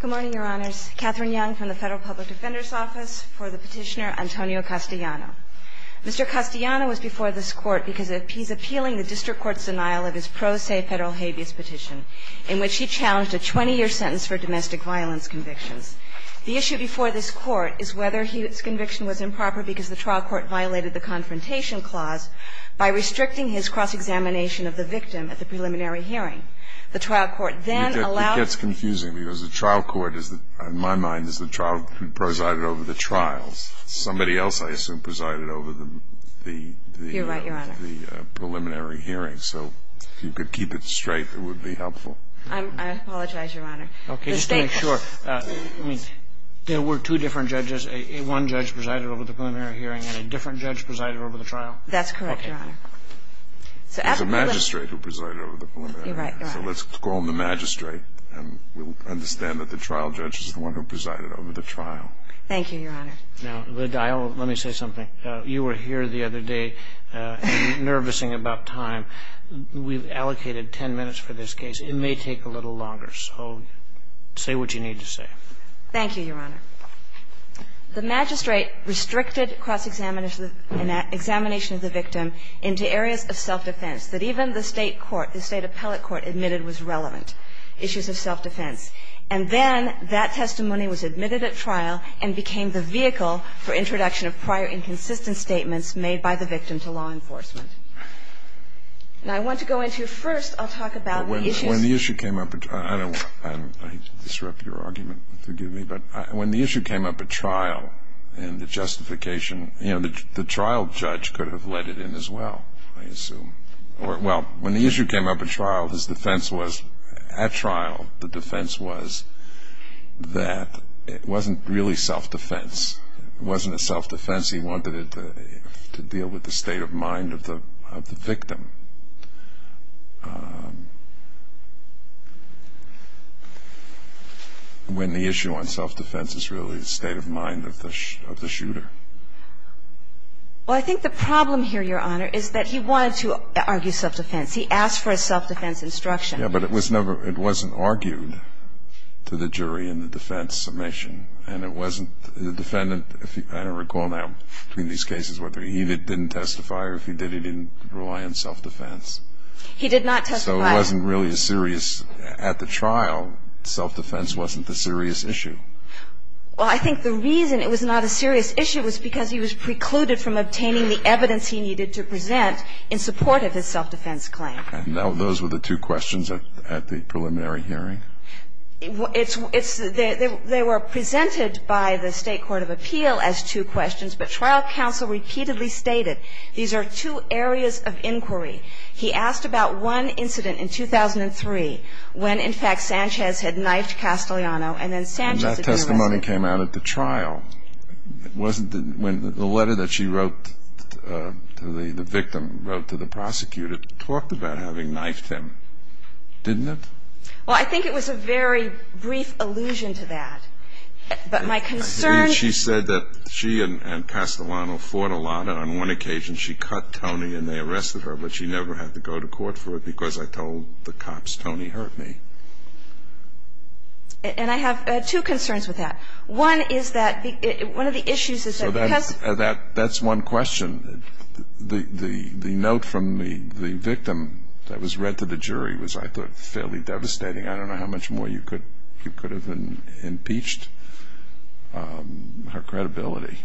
Good morning, Your Honors. Catherine Young from the Federal Public Defender's Office for the Petitioner, Antonio Castellano. Mr. Castellano was before this Court because he's appealing the district court's denial of his pro se federal habeas petition, in which he challenged a 20-year sentence for domestic violence convictions. The issue before this Court is whether his conviction was improper because the trial court violated the confrontation clause by restricting his cross-examination of the victim at the preliminary hearing. The trial court then allowed It gets confusing because the trial court is the in my mind is the trial who presided over the trials. Somebody else, I assume, presided over the You're right, Your Honor. the preliminary hearing. So if you could keep it straight, it would be helpful. I apologize, Your Honor. Okay. Just to make sure. There were two different judges. One judge presided over the preliminary hearing and a different judge presided over the trial? That's correct, Your Honor. The magistrate who presided over the preliminary hearing. You're right. So let's call him the magistrate, and we'll understand that the trial judge is the one who presided over the trial. Thank you, Your Honor. Now, let me say something. You were here the other day, nervousing about time. We've allocated 10 minutes for this case. It may take a little longer. So say what you need to say. Thank you, Your Honor. The magistrate restricted cross-examination of the victim into areas of self-defense that even the State court, the State appellate court, admitted was relevant, issues of self-defense. And then that testimony was admitted at trial and became the vehicle for introduction of prior inconsistent statements made by the victim to law enforcement. Now, I want to go into first, I'll talk about the issues. When the issue came up, I don't want to disrupt your argument. When the issue came up at trial and the justification, the trial judge could have let it in as well, I assume. Well, when the issue came up at trial, his defense was, at trial, the defense was that it wasn't really self-defense. It wasn't a self-defense. He wanted it to deal with the state of mind of the victim. And the issue on self-defense is really the state of mind of the shooter. Well, I think the problem here, Your Honor, is that he wanted to argue self-defense. He asked for a self-defense instruction. Yeah, but it was never, it wasn't argued to the jury in the defense submission. And it wasn't, the defendant, I don't recall now, between these cases whether he didn't testify or if he did, He did not testify. So it wasn't really a serious, at the trial, self-defense wasn't the serious issue. Well, I think the reason it was not a serious issue was because he was precluded from obtaining the evidence he needed to present in support of his self-defense claim. And those were the two questions at the preliminary hearing? It's, they were presented by the State Court of Appeal as two questions, but trial counsel repeatedly stated these are two areas of inquiry. He asked about one incident in 2003 when, in fact, Sanchez had knifed Castellano and then Sanchez had been arrested. And that testimony came out at the trial. It wasn't the, when the letter that she wrote to the victim, wrote to the prosecutor, talked about having knifed him, didn't it? Well, I think it was a very brief allusion to that. But my concern. I believe she said that she and Castellano fought a lot. On one occasion she cut Tony and they arrested her, but she never had to go to court for it because I told the cops Tony hurt me. And I have two concerns with that. One is that, one of the issues is that because. That's one question. The note from the victim that was read to the jury was, I thought, fairly devastating. I don't know how much more you could have impeached her credibility.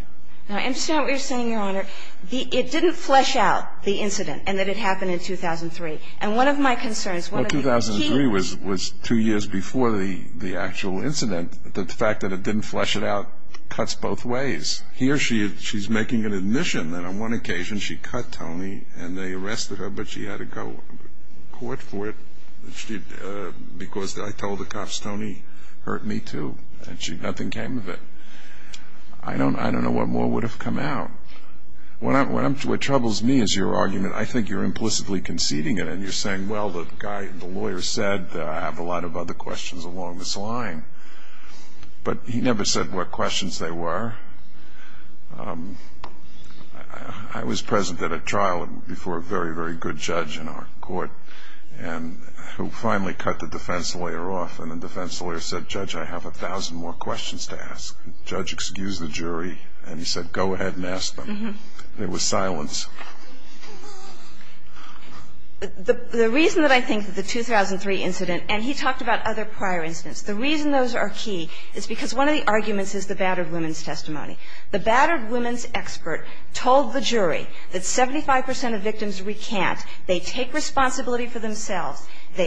Now, I understand what you're saying, Your Honor. It didn't flesh out the incident and that it happened in 2003. And one of my concerns. Well, 2003 was two years before the actual incident. The fact that it didn't flesh it out cuts both ways. Here she's making an admission that on one occasion she cut Tony and they arrested her, but she had to go to court for it because I told the cops Tony hurt me too. And nothing came of it. I don't know what more would have come out. What troubles me is your argument. I think you're implicitly conceding it and you're saying, well, the lawyer said that I have a lot of other questions along this line. But he never said what questions they were. I was present at a trial before a very, very good judge in our court who finally cut the defense lawyer off. And the defense lawyer said, Judge, I have a thousand more questions to ask. The judge excused the jury and he said, go ahead and ask them. There was silence. The reason that I think that the 2003 incident, and he talked about other prior incidents, the reason those are key is because one of the arguments is the battered women's testimony. The battered women's expert told the jury that 75 percent of victims recant. They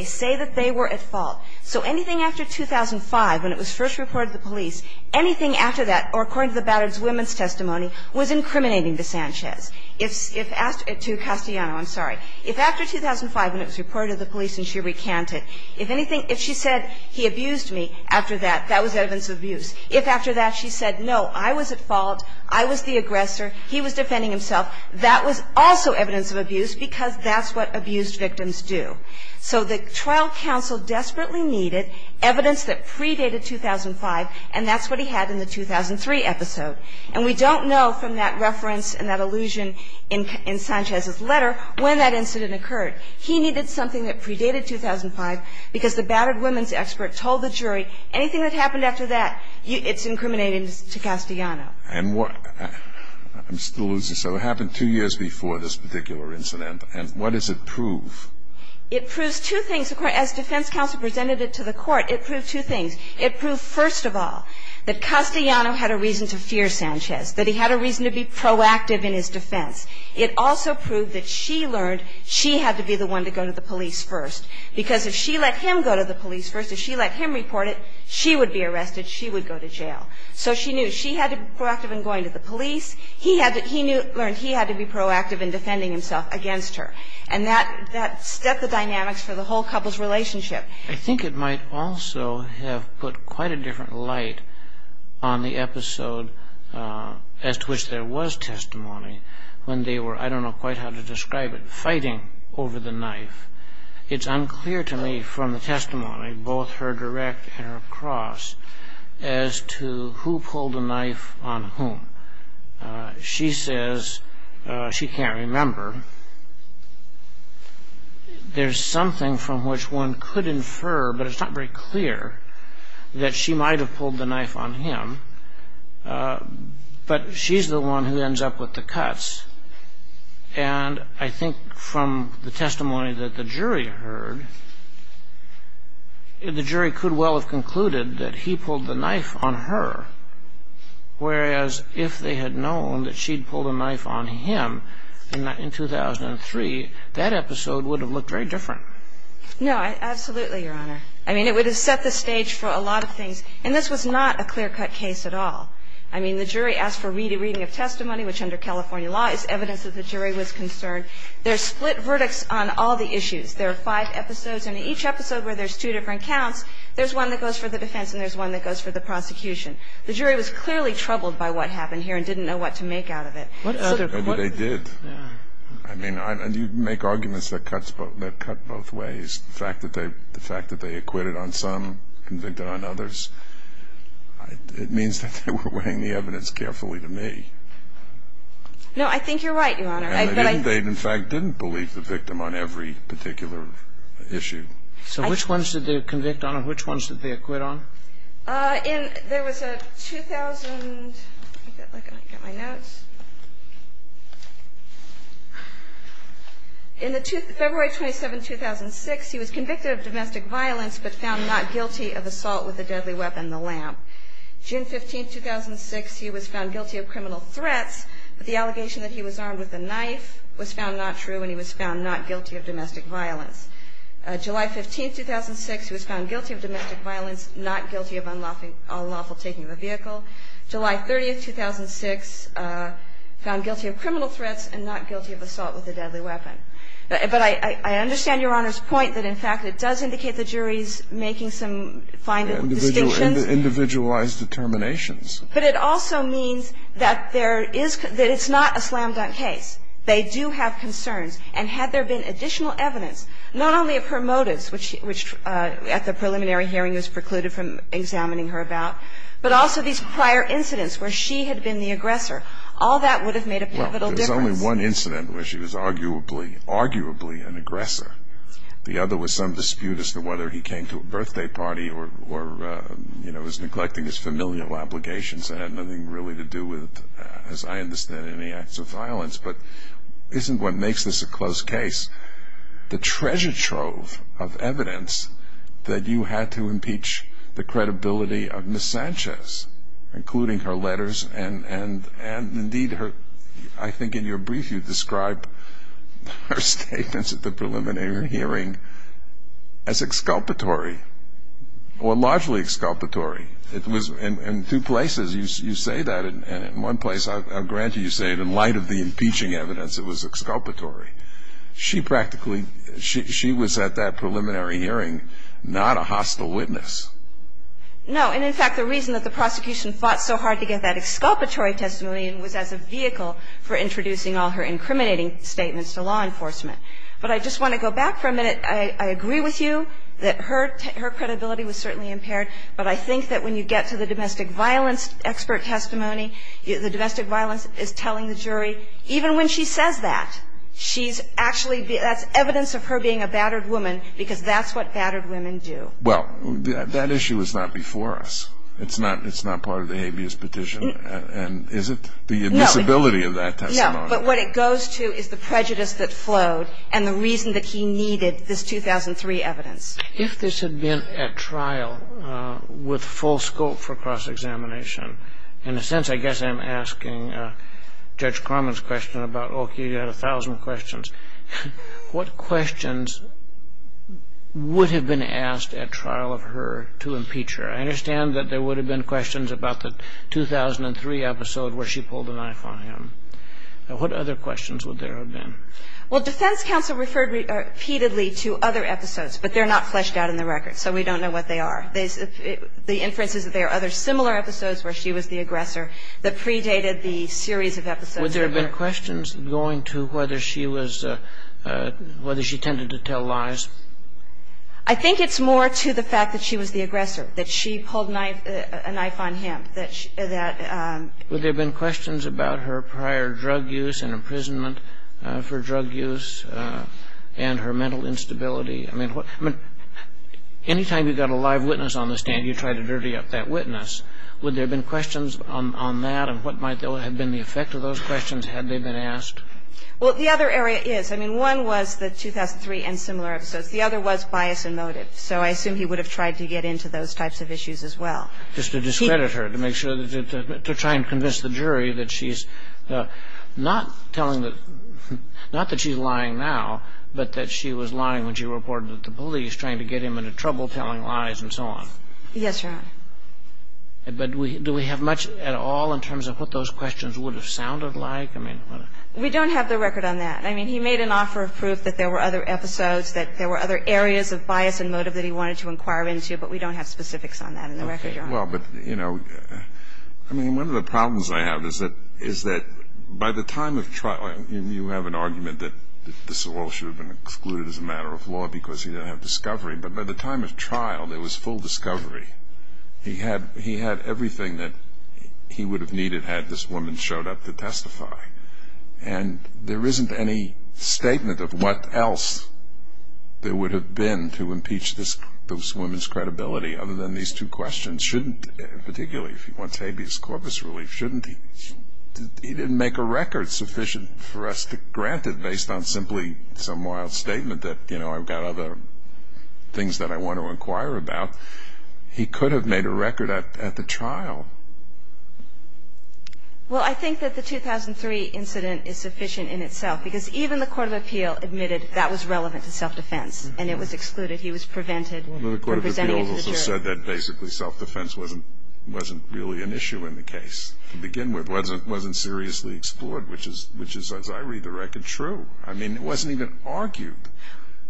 say that they were at fault. So anything after 2005, when it was first reported to the police, anything after that, or according to the battered women's testimony, was incriminating to Sanchez. If asked to Castellano, I'm sorry. If after 2005, when it was reported to the police and she recanted, if anything ‑‑ if she said he abused me after that, that was evidence of abuse. If after that she said, no, I was at fault, I was the aggressor, he was defending himself, that was also evidence of abuse because that's what abused victims do. So the trial counsel desperately needed evidence that predated 2005, and that's what he had in the 2003 episode. And we don't know from that reference and that allusion in Sanchez's letter when that incident occurred. He needed something that predated 2005 because the battered women's expert told the jury, anything that happened after that, it's incriminating to Castellano. And what ‑‑ I'm still losing. So it happened two years before this particular incident, and what does it prove? It proves two things. As defense counsel presented it to the court, it proved two things. It proved, first of all, that Castellano had a reason to fear Sanchez, that he had a reason to be proactive in his defense. It also proved that she learned she had to be the one to go to the police first because if she let him go to the police first, if she let him report it, she would be arrested, she would go to jail. So she knew she had to be proactive in going to the police. He had to ‑‑ he learned he had to be proactive in defending himself against her. And that set the dynamics for the whole couple's relationship. I think it might also have put quite a different light on the episode as to which there was testimony when they were, I don't know quite how to describe it, fighting over the knife. It's unclear to me from the testimony, both her direct and her cross, as to who pulled the knife on whom. She says she can't remember. There's something from which one could infer, but it's not very clear, that she might have pulled the knife on him. But she's the one who ends up with the cuts. And I think from the testimony that the jury heard, the jury could well have concluded that he pulled the knife on her. Whereas if they had known that she'd pulled a knife on him in 2003, that episode would have looked very different. No, absolutely, Your Honor. I mean, it would have set the stage for a lot of things. And this was not a clear-cut case at all. I mean, the jury asked for reading of testimony, which under California law is evidence that the jury was concerned. There's split verdicts on all the issues. There are five episodes. And in each episode where there's two different counts, there's one that goes for the defense and there's one that goes for the prosecution. The jury was clearly troubled by what happened here and didn't know what to make out of it. Maybe they did. I mean, you make arguments that cut both ways. The fact that they acquitted on some, convicted on others, it means that they were weighing the evidence carefully to me. No, I think you're right, Your Honor. And they, in fact, didn't believe the victim on every particular issue. So which ones did they convict on and which ones did they acquit on? There was a 2000, I've got my notes. In February 27, 2006, he was convicted of domestic violence but found not guilty of assault with a deadly weapon, the lamp. June 15, 2006, he was found guilty of criminal threats, but the allegation that he was armed with a knife was found not true and he was found not guilty of domestic violence. July 15, 2006, he was found guilty of domestic violence, not guilty of unlawful taking of a vehicle. July 30, 2006, found guilty of criminal threats and not guilty of assault with a deadly weapon. But I understand Your Honor's point that, in fact, it does indicate the jury's making some fine distinctions. Individualized determinations. But it also means that there is, that it's not a slam-dunk case. They do have concerns. And had there been additional evidence, not only of her motives, which at the preliminary hearing was precluded from examining her about, but also these prior incidents where she had been the aggressor, all that would have made a pivotal difference. Well, there was only one incident where she was arguably, arguably an aggressor. The other was some dispute as to whether he came to a birthday party or, you know, was neglecting his familial obligations. It had nothing really to do with, as I understand it, any acts of violence. But isn't what makes this a closed case the treasure trove of evidence that you had to impeach the credibility of Ms. Sanchez, including her letters and, indeed, I think in your brief you describe her statements at the preliminary hearing as exculpatory, or largely exculpatory. In two places you say that. And in one place I'll grant you you say that in light of the impeaching evidence it was exculpatory. She practically, she was at that preliminary hearing not a hostile witness. No. And, in fact, the reason that the prosecution fought so hard to get that exculpatory testimony was as a vehicle for introducing all her incriminating statements to law enforcement. But I just want to go back for a minute. I agree with you that her credibility was certainly impaired. But I think that when you get to the domestic violence expert testimony, the domestic violence is telling the jury, even when she says that, she's actually been, that's evidence of her being a battered woman, because that's what battered women do. Well, that issue is not before us. It's not part of the habeas petition. And is it? No. The admissibility of that testimony. No. But what it goes to is the prejudice that flowed and the reason that he needed this 2003 evidence. If this had been at trial with full scope for cross-examination, in a sense, I guess I'm asking Judge Corman's question about, okay, you had a thousand questions. What questions would have been asked at trial of her to impeach her? I understand that there would have been questions about the 2003 episode where she pulled a knife on him. What other questions would there have been? Well, defense counsel referred repeatedly to other episodes, but they're not fleshed out in the record, so we don't know what they are. The inference is that there are other similar episodes where she was the aggressor that predated the series of episodes. Would there have been questions going to whether she was, whether she tended to tell lies? I think it's more to the fact that she was the aggressor, that she pulled a knife on him, that she, that. Would there have been questions about her prior drug use and imprisonment for drug use and her mental instability? I mean, any time you've got a live witness on the stand, you try to dirty up that witness. Would there have been questions on that and what might have been the effect of those questions had they been asked? Well, the other area is, I mean, one was the 2003 and similar episodes. The other was bias and motive. So I assume he would have tried to get into those types of issues as well. And I think we can try to make sure that she's lying just to discredit her, to make sure that to try and convince the jury that she's not telling the --" not that she's lying now, but that she was lying when she reported that the police were trying to get him into trouble telling lies and so on. Yes, Your Honor. But do we have much at all in terms of what those questions would have sounded like? We don't have the record on that. I mean, he made an offer of proof that there were other episodes, that there were other areas of bias and motive that he wanted to inquire into, but we don't have specifics on that in the record, Your Honor. Okay. Well, but, you know, I mean, one of the problems I have is that by the time of trial you have an argument that this all should have been excluded as a matter of law because he didn't have discovery. But by the time of trial there was full discovery. He had everything that he would have needed had this woman showed up to testify. And there isn't any statement of what else there would have been to impeach this woman's credibility other than these two questions. Shouldn't, particularly if he wants habeas corpus relief, shouldn't he? He didn't make a record sufficient for us to grant it based on simply some wild statement that, you know, I've got other things that I want to inquire about. He could have made a record at the trial. Well, I think that the 2003 incident is sufficient in itself because even the Court of Appeal admitted that was relevant to self-defense, and it was excluded. He was prevented from presenting it to the jury. Well, the Court of Appeal also said that basically self-defense wasn't really an issue in the case to begin with, wasn't seriously explored, which is, as I read the record, true. I mean, it wasn't even argued.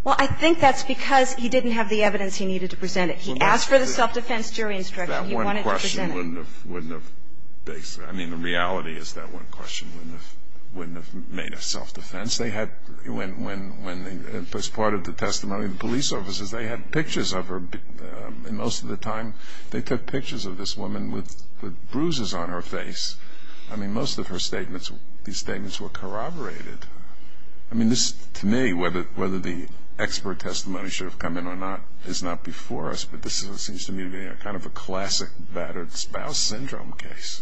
Well, I think that's because he didn't have the evidence he needed to present it. He asked for the self-defense jury instruction. He wanted to present it. That one question wouldn't have, I mean, the reality is that one question wouldn't have made a self-defense. They had, as part of the testimony of the police officers, they had pictures of her, and most of the time they took pictures of this woman with bruises on her face. I mean, most of her statements, these statements were corroborated. I mean, this, to me, whether the expert testimony should have come in or not is not before us, but this seems to me to be a kind of a classic battered spouse syndrome case.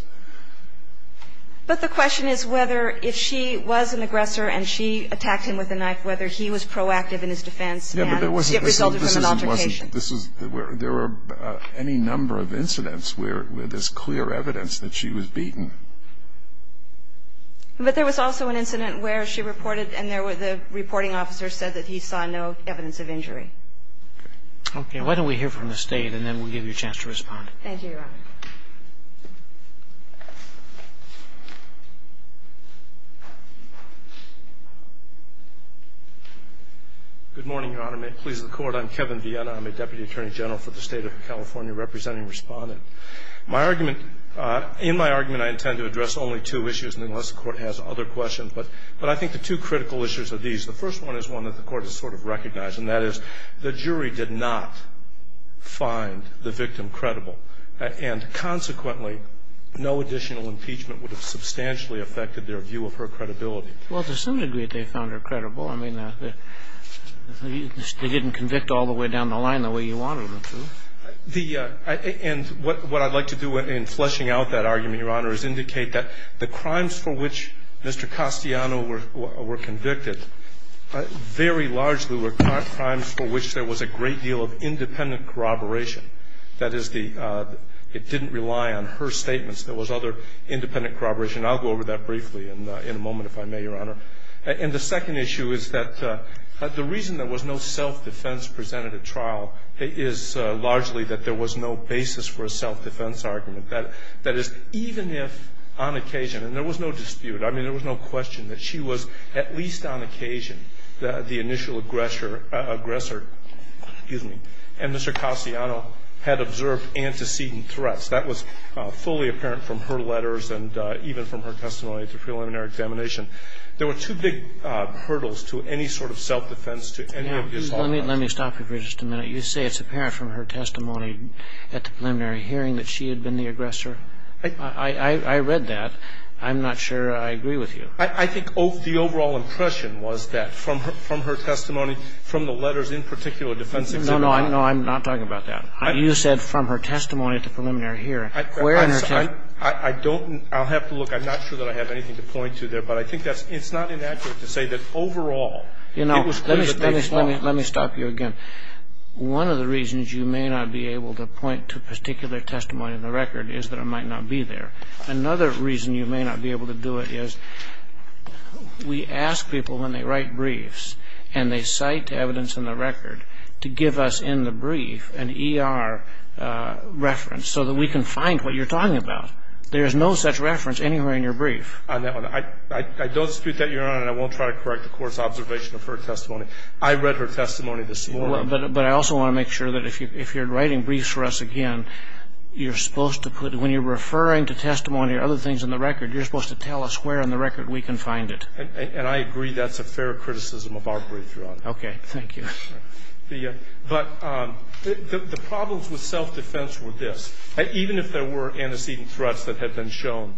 But the question is whether if she was an aggressor and she attacked him with a knife, whether he was proactive in his defense and it resulted from an altercation. Yes, but there wasn't, this wasn't, this was, there were any number of incidents where there's clear evidence that she was beaten. But there was also an incident where she reported and there were, the reporting officer said that he saw no evidence of injury. Okay. Why don't we hear from the State and then we'll give you a chance to respond. Thank you, Your Honor. Good morning, Your Honor. May it please the Court. I'm Kevin Vienna. I'm a Deputy Attorney General for the State of California representing Respondent. My argument, in my argument, I intend to address only two issues, unless the Court has other questions. But I think the two critical issues are these. The first one is one that the Court has sort of recognized, and that is the jury did not find the victim credible. And consequently, no additional impeachment would have substantially affected their view of her credibility. Well, to some degree they found her credible. I mean, they didn't convict all the way down the line the way you wanted them to. And what I'd like to do in fleshing out that argument, Your Honor, is indicate that the crimes for which Mr. Castellano were convicted very largely were crimes for which there was a great deal of independent corroboration. That is, it didn't rely on her statements. There was other independent corroboration. I'll go over that briefly in a moment, if I may, Your Honor. And the second issue is that the reason there was no self-defense presented at trial is largely that there was no basis for a self-defense argument. That is, even if on occasion, and there was no dispute, I mean, there was no question that she was at least on occasion the initial aggressor, excuse me, and Mr. Castellano had observed antecedent threats. That was fully apparent from her letters and even from her testimony at the preliminary examination. There were two big hurdles to any sort of self-defense, to any of this. I mean, let me stop you for just a minute. You say it's apparent from her testimony at the preliminary hearing that she had been the aggressor. I read that. I'm not sure I agree with you. I think the overall impression was that, from her testimony, from the letters in particular defense examiners. No, no, I'm not talking about that. You said from her testimony at the preliminary hearing. Where in her testimony? I don't know. I'll have to look. I'm not sure that I have anything to point to there. But I think that's not inaccurate to say that overall it was clear that they fought. Let me stop you again. One of the reasons you may not be able to point to a particular testimony in the record is that it might not be there. Another reason you may not be able to do it is we ask people when they write briefs and they cite evidence in the record to give us in the brief an ER reference so that we can find what you're talking about. There is no such reference anywhere in your brief. I don't dispute that, Your Honor, and I won't try to correct the Court's observation of her testimony. I read her testimony this morning. But I also want to make sure that if you're writing briefs for us again, you're supposed to put, when you're referring to testimony or other things in the record, you're supposed to tell us where in the record we can find it. And I agree that's a fair criticism of our brief, Your Honor. Okay. Thank you. But the problems with self-defense were this. Even if there were antecedent threats that had been shown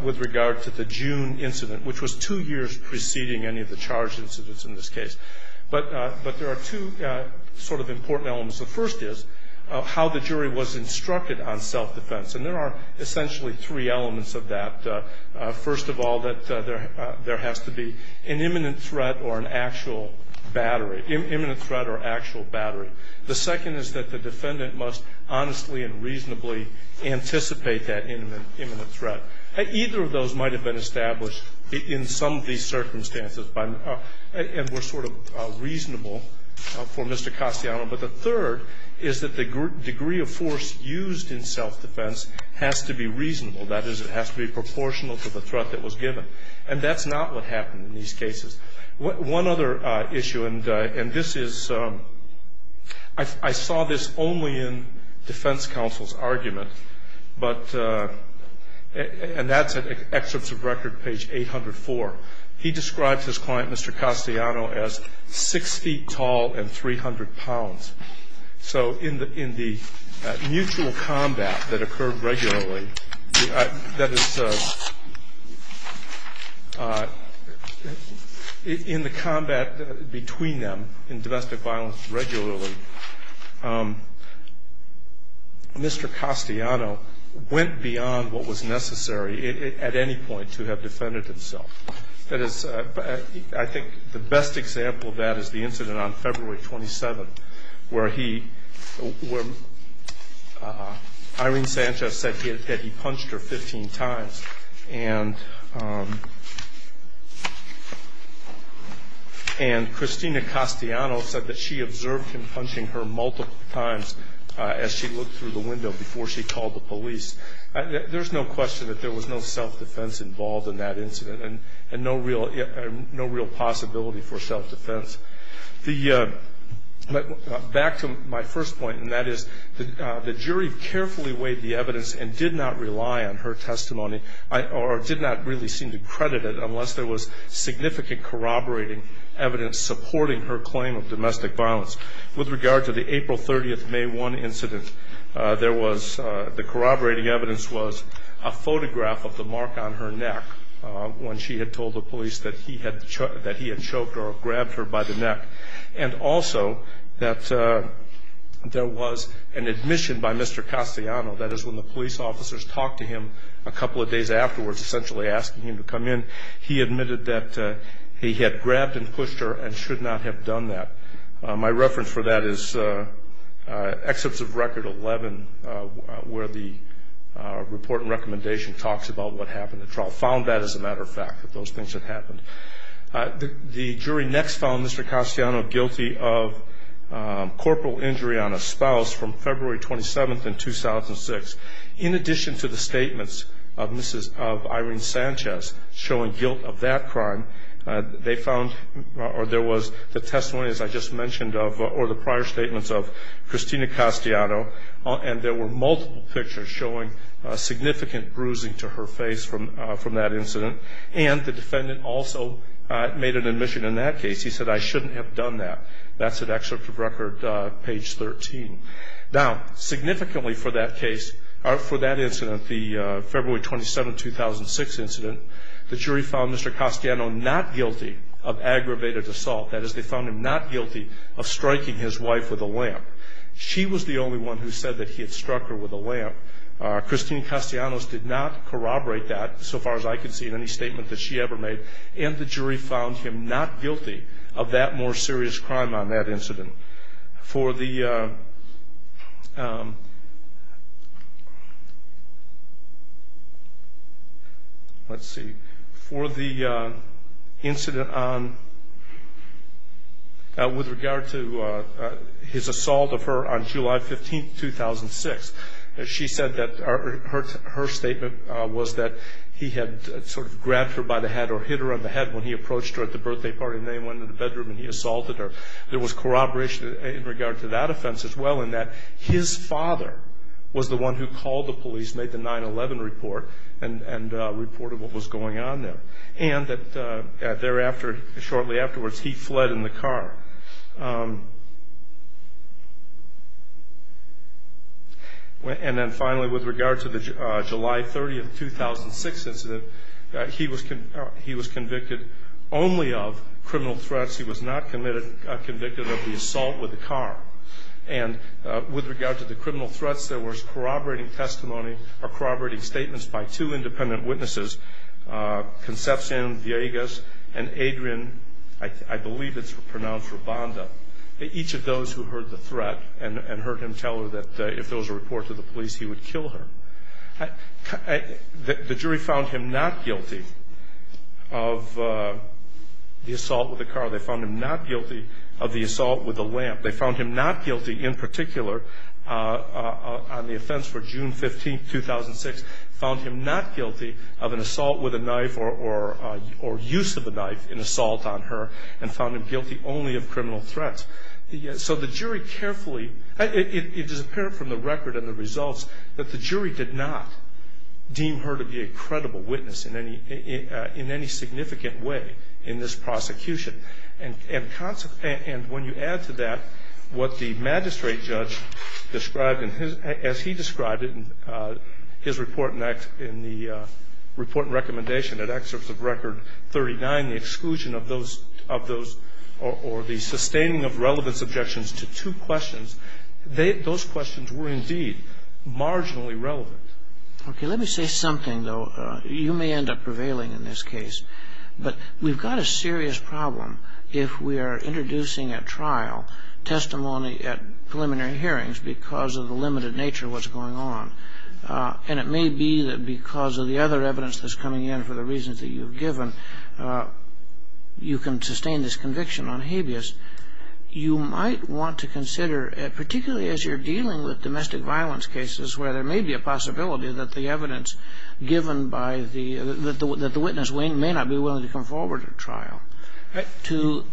with regard to the June incident, which was two years preceding any of the charge incidents in this case, but there are two sort of important elements. The first is how the jury was instructed on self-defense. And there are essentially three elements of that. First of all, that there has to be an imminent threat or an actual battery, imminent threat or actual battery. The second is that the defendant must honestly and reasonably anticipate that imminent threat. Either of those might have been established in some of these circumstances and were sort of reasonable for Mr. Castellano. But the third is that the degree of force used in self-defense has to be reasonable. That is, it has to be proportional to the threat that was given. And that's not what happened in these cases. One other issue, and this is, I saw this only in defense counsel's argument, but, and that's in excerpts of record, page 804. He describes his client, Mr. Castellano, as 6 feet tall and 300 pounds. So in the mutual combat that occurred regularly, that is, in the combat between them, in domestic violence regularly, Mr. Castellano went beyond what was necessary at any point to have defended himself. That is, I think the best example of that is the incident on February 27th, where he, where Irene Sanchez said that he punched her 15 times. And Christina Castellano said that she observed him punching her multiple times as she looked through the window before she called the police. There's no question that there was no self-defense involved in that incident and no real possibility for self-defense. Back to my first point, and that is, the jury carefully weighed the evidence and did not rely on her testimony or did not really seem to credit it unless there was significant corroborating evidence supporting her claim of domestic violence. With regard to the April 30th, May 1 incident, there was, the corroborating evidence was a photograph of the mark on her neck when she had told the police that he had choked or grabbed her by the neck. And also that there was an admission by Mr. Castellano, that is when the police officers talked to him a couple of days afterwards, essentially asking him to come in. He admitted that he had grabbed and pushed her and should not have done that. My reference for that is Exhibits of Record 11, where the report and recommendation talks about what happened at trial. Found that, as a matter of fact, that those things had happened. The jury next found Mr. Castellano guilty of corporal injury on a spouse from February 27th in 2006. In addition to the statements of Irene Sanchez showing guilt of that crime, they found, or there was the testimony, as I just mentioned, or the prior statements of Christina Castellano, and there were multiple pictures showing significant bruising to her face from that incident. And the defendant also made an admission in that case. He said, I shouldn't have done that. That's at Exhibits of Record page 13. Now, significantly for that case, for that incident, the February 27th, 2006 incident, the jury found Mr. Castellano not guilty of aggravated assault. That is, they found him not guilty of striking his wife with a lamp. She was the only one who said that he had struck her with a lamp. Christina Castellano did not corroborate that, so far as I could see, in any statement that she ever made. And the jury found him not guilty of that more serious crime on that incident. For the, let's see. For the incident on, with regard to his assault of her on July 15th, 2006. She said that her statement was that he had sort of grabbed her by the head or hit her on the head when he approached her at the birthday party, and then he went into the bedroom and he assaulted her. There was corroboration in regard to that offense as well, in that his father was the one who called the police, made the 9-11 report, and reported what was going on there. And that thereafter, shortly afterwards, he fled in the car. And then finally, with regard to the July 30th, 2006 incident, he was convicted only of criminal threats. He was not convicted of the assault with the car. And with regard to the criminal threats, there was corroborating testimony or corroborating statements by two independent witnesses, Concepcion Villegas and Adrian, I believe it's pronounced Robanda, each of those who heard the threat and heard him tell her that if there was a report to the police, he would kill her. The jury found him not guilty of the assault with the car. They found him not guilty of the assault with the lamp. They found him not guilty in particular on the offense for June 15th, 2006, found him not guilty of an assault with a knife or use of a knife in assault on her, and found him guilty only of criminal threats. So the jury carefully, it is apparent from the record and the results, that the jury did not deem her to be a credible witness in any significant way in this prosecution. And when you add to that what the magistrate judge described, as he described it in his report in the report and recommendation that excerpts of Record 39, the exclusion of those or the sustaining of relevance objections to two questions, those questions were indeed marginally relevant. Okay. Let me say something, though. You may end up prevailing in this case. But we've got a serious problem if we are introducing at trial testimony at preliminary hearings because of the limited nature of what's going on. And it may be that because of the other evidence that's coming in for the reasons that you've given, you can sustain this conviction on habeas. You might want to consider, particularly as you're dealing with domestic violence cases where there may be a possibility that the evidence given by the – that the witness may not be willing to come forward at trial to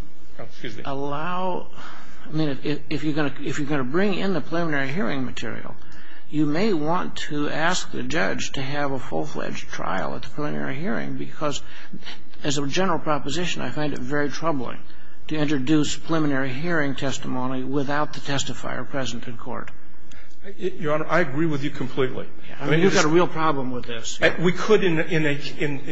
allow – I mean, if you're going to bring in the preliminary hearing material, you may want to ask the judge to have a full-fledged trial at the preliminary hearing because, as a general proposition, I find it very troubling to introduce preliminary hearing testimony without the testifier present in court. Your Honor, I agree with you completely. I mean, you've got a real problem with this. We could in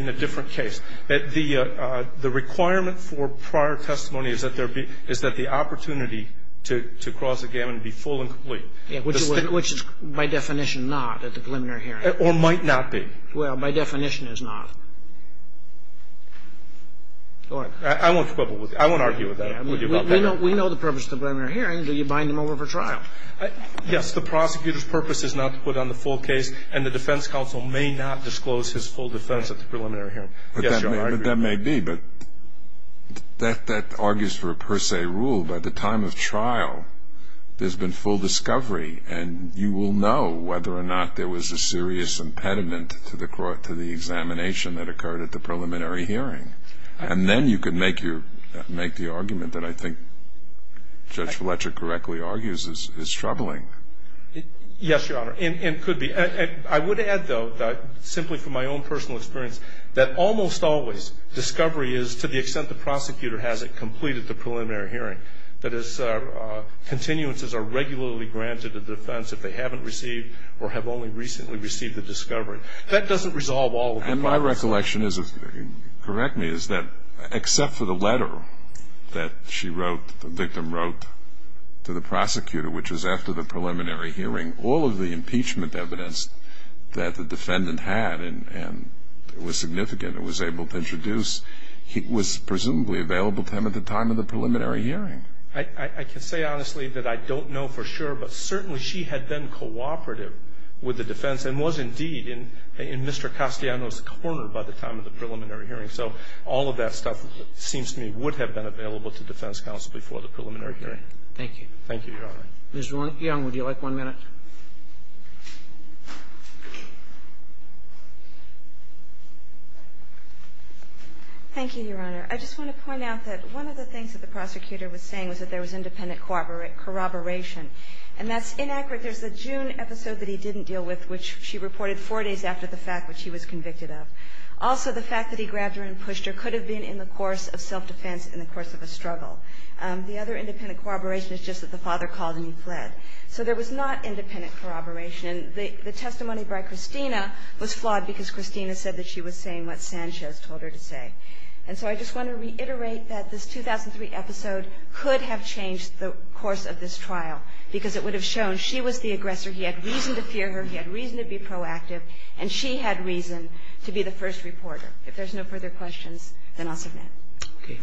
a different case. The requirement for prior testimony is that there be – is that the opportunity to cross the gamut be full and complete. Which is by definition not at the preliminary hearing. Or might not be. Well, by definition is not. Go ahead. I won't quibble with you. I won't argue with you about that. We know the purpose of the preliminary hearing. Do you bind them over for trial? Yes, the prosecutor's purpose is not to put on the full case, and the defense counsel may not disclose his full defense at the preliminary hearing. Yes, Your Honor, I agree. But that may be. But that argues for a per se rule. By the time of trial, there's been full discovery, and you will know whether or not there was a serious impediment to the examination that occurred at the preliminary hearing. And then you can make your – make the argument that I think Judge Fletcher correctly argues is troubling. Yes, Your Honor. And could be. I would add, though, simply from my own personal experience, that almost always discovery is to the extent the prosecutor hasn't completed the preliminary hearing. That is, continuances are regularly granted to the defense if they haven't received or have only recently received the discovery. That doesn't resolve all of the problems. And my recollection is – correct me – is that except for the letter that she wrote to the prosecutor, which was after the preliminary hearing, all of the impeachment evidence that the defendant had, and it was significant, it was able to introduce, was presumably available to him at the time of the preliminary hearing. I can say honestly that I don't know for sure, but certainly she had been cooperative with the defense and was indeed in Mr. Castellano's corner by the time of the preliminary hearing. So all of that stuff seems to me would have been available to defense counsel before the preliminary hearing. Thank you. Thank you, Your Honor. Ms. Young, would you like one minute? Thank you, Your Honor. I just want to point out that one of the things that the prosecutor was saying was that there was independent corroboration. And that's inaccurate. There's the June episode that he didn't deal with, which she reported four days after the fact, which he was convicted of. Also, the fact that he grabbed her and pushed her could have been in the course of self-defense in the course of a struggle. The other independent corroboration is just that the father called and he fled. So there was not independent corroboration. The testimony by Christina was flawed because Christina said that she was saying what Sanchez told her to say. And so I just want to reiterate that this 2003 episode could have changed the course of this trial because it would have shown she was the aggressor, he had reason to fear her, he had reason to be proactive, and she had reason to be the first reporter. If there's no further questions, then I'll submit. Okay.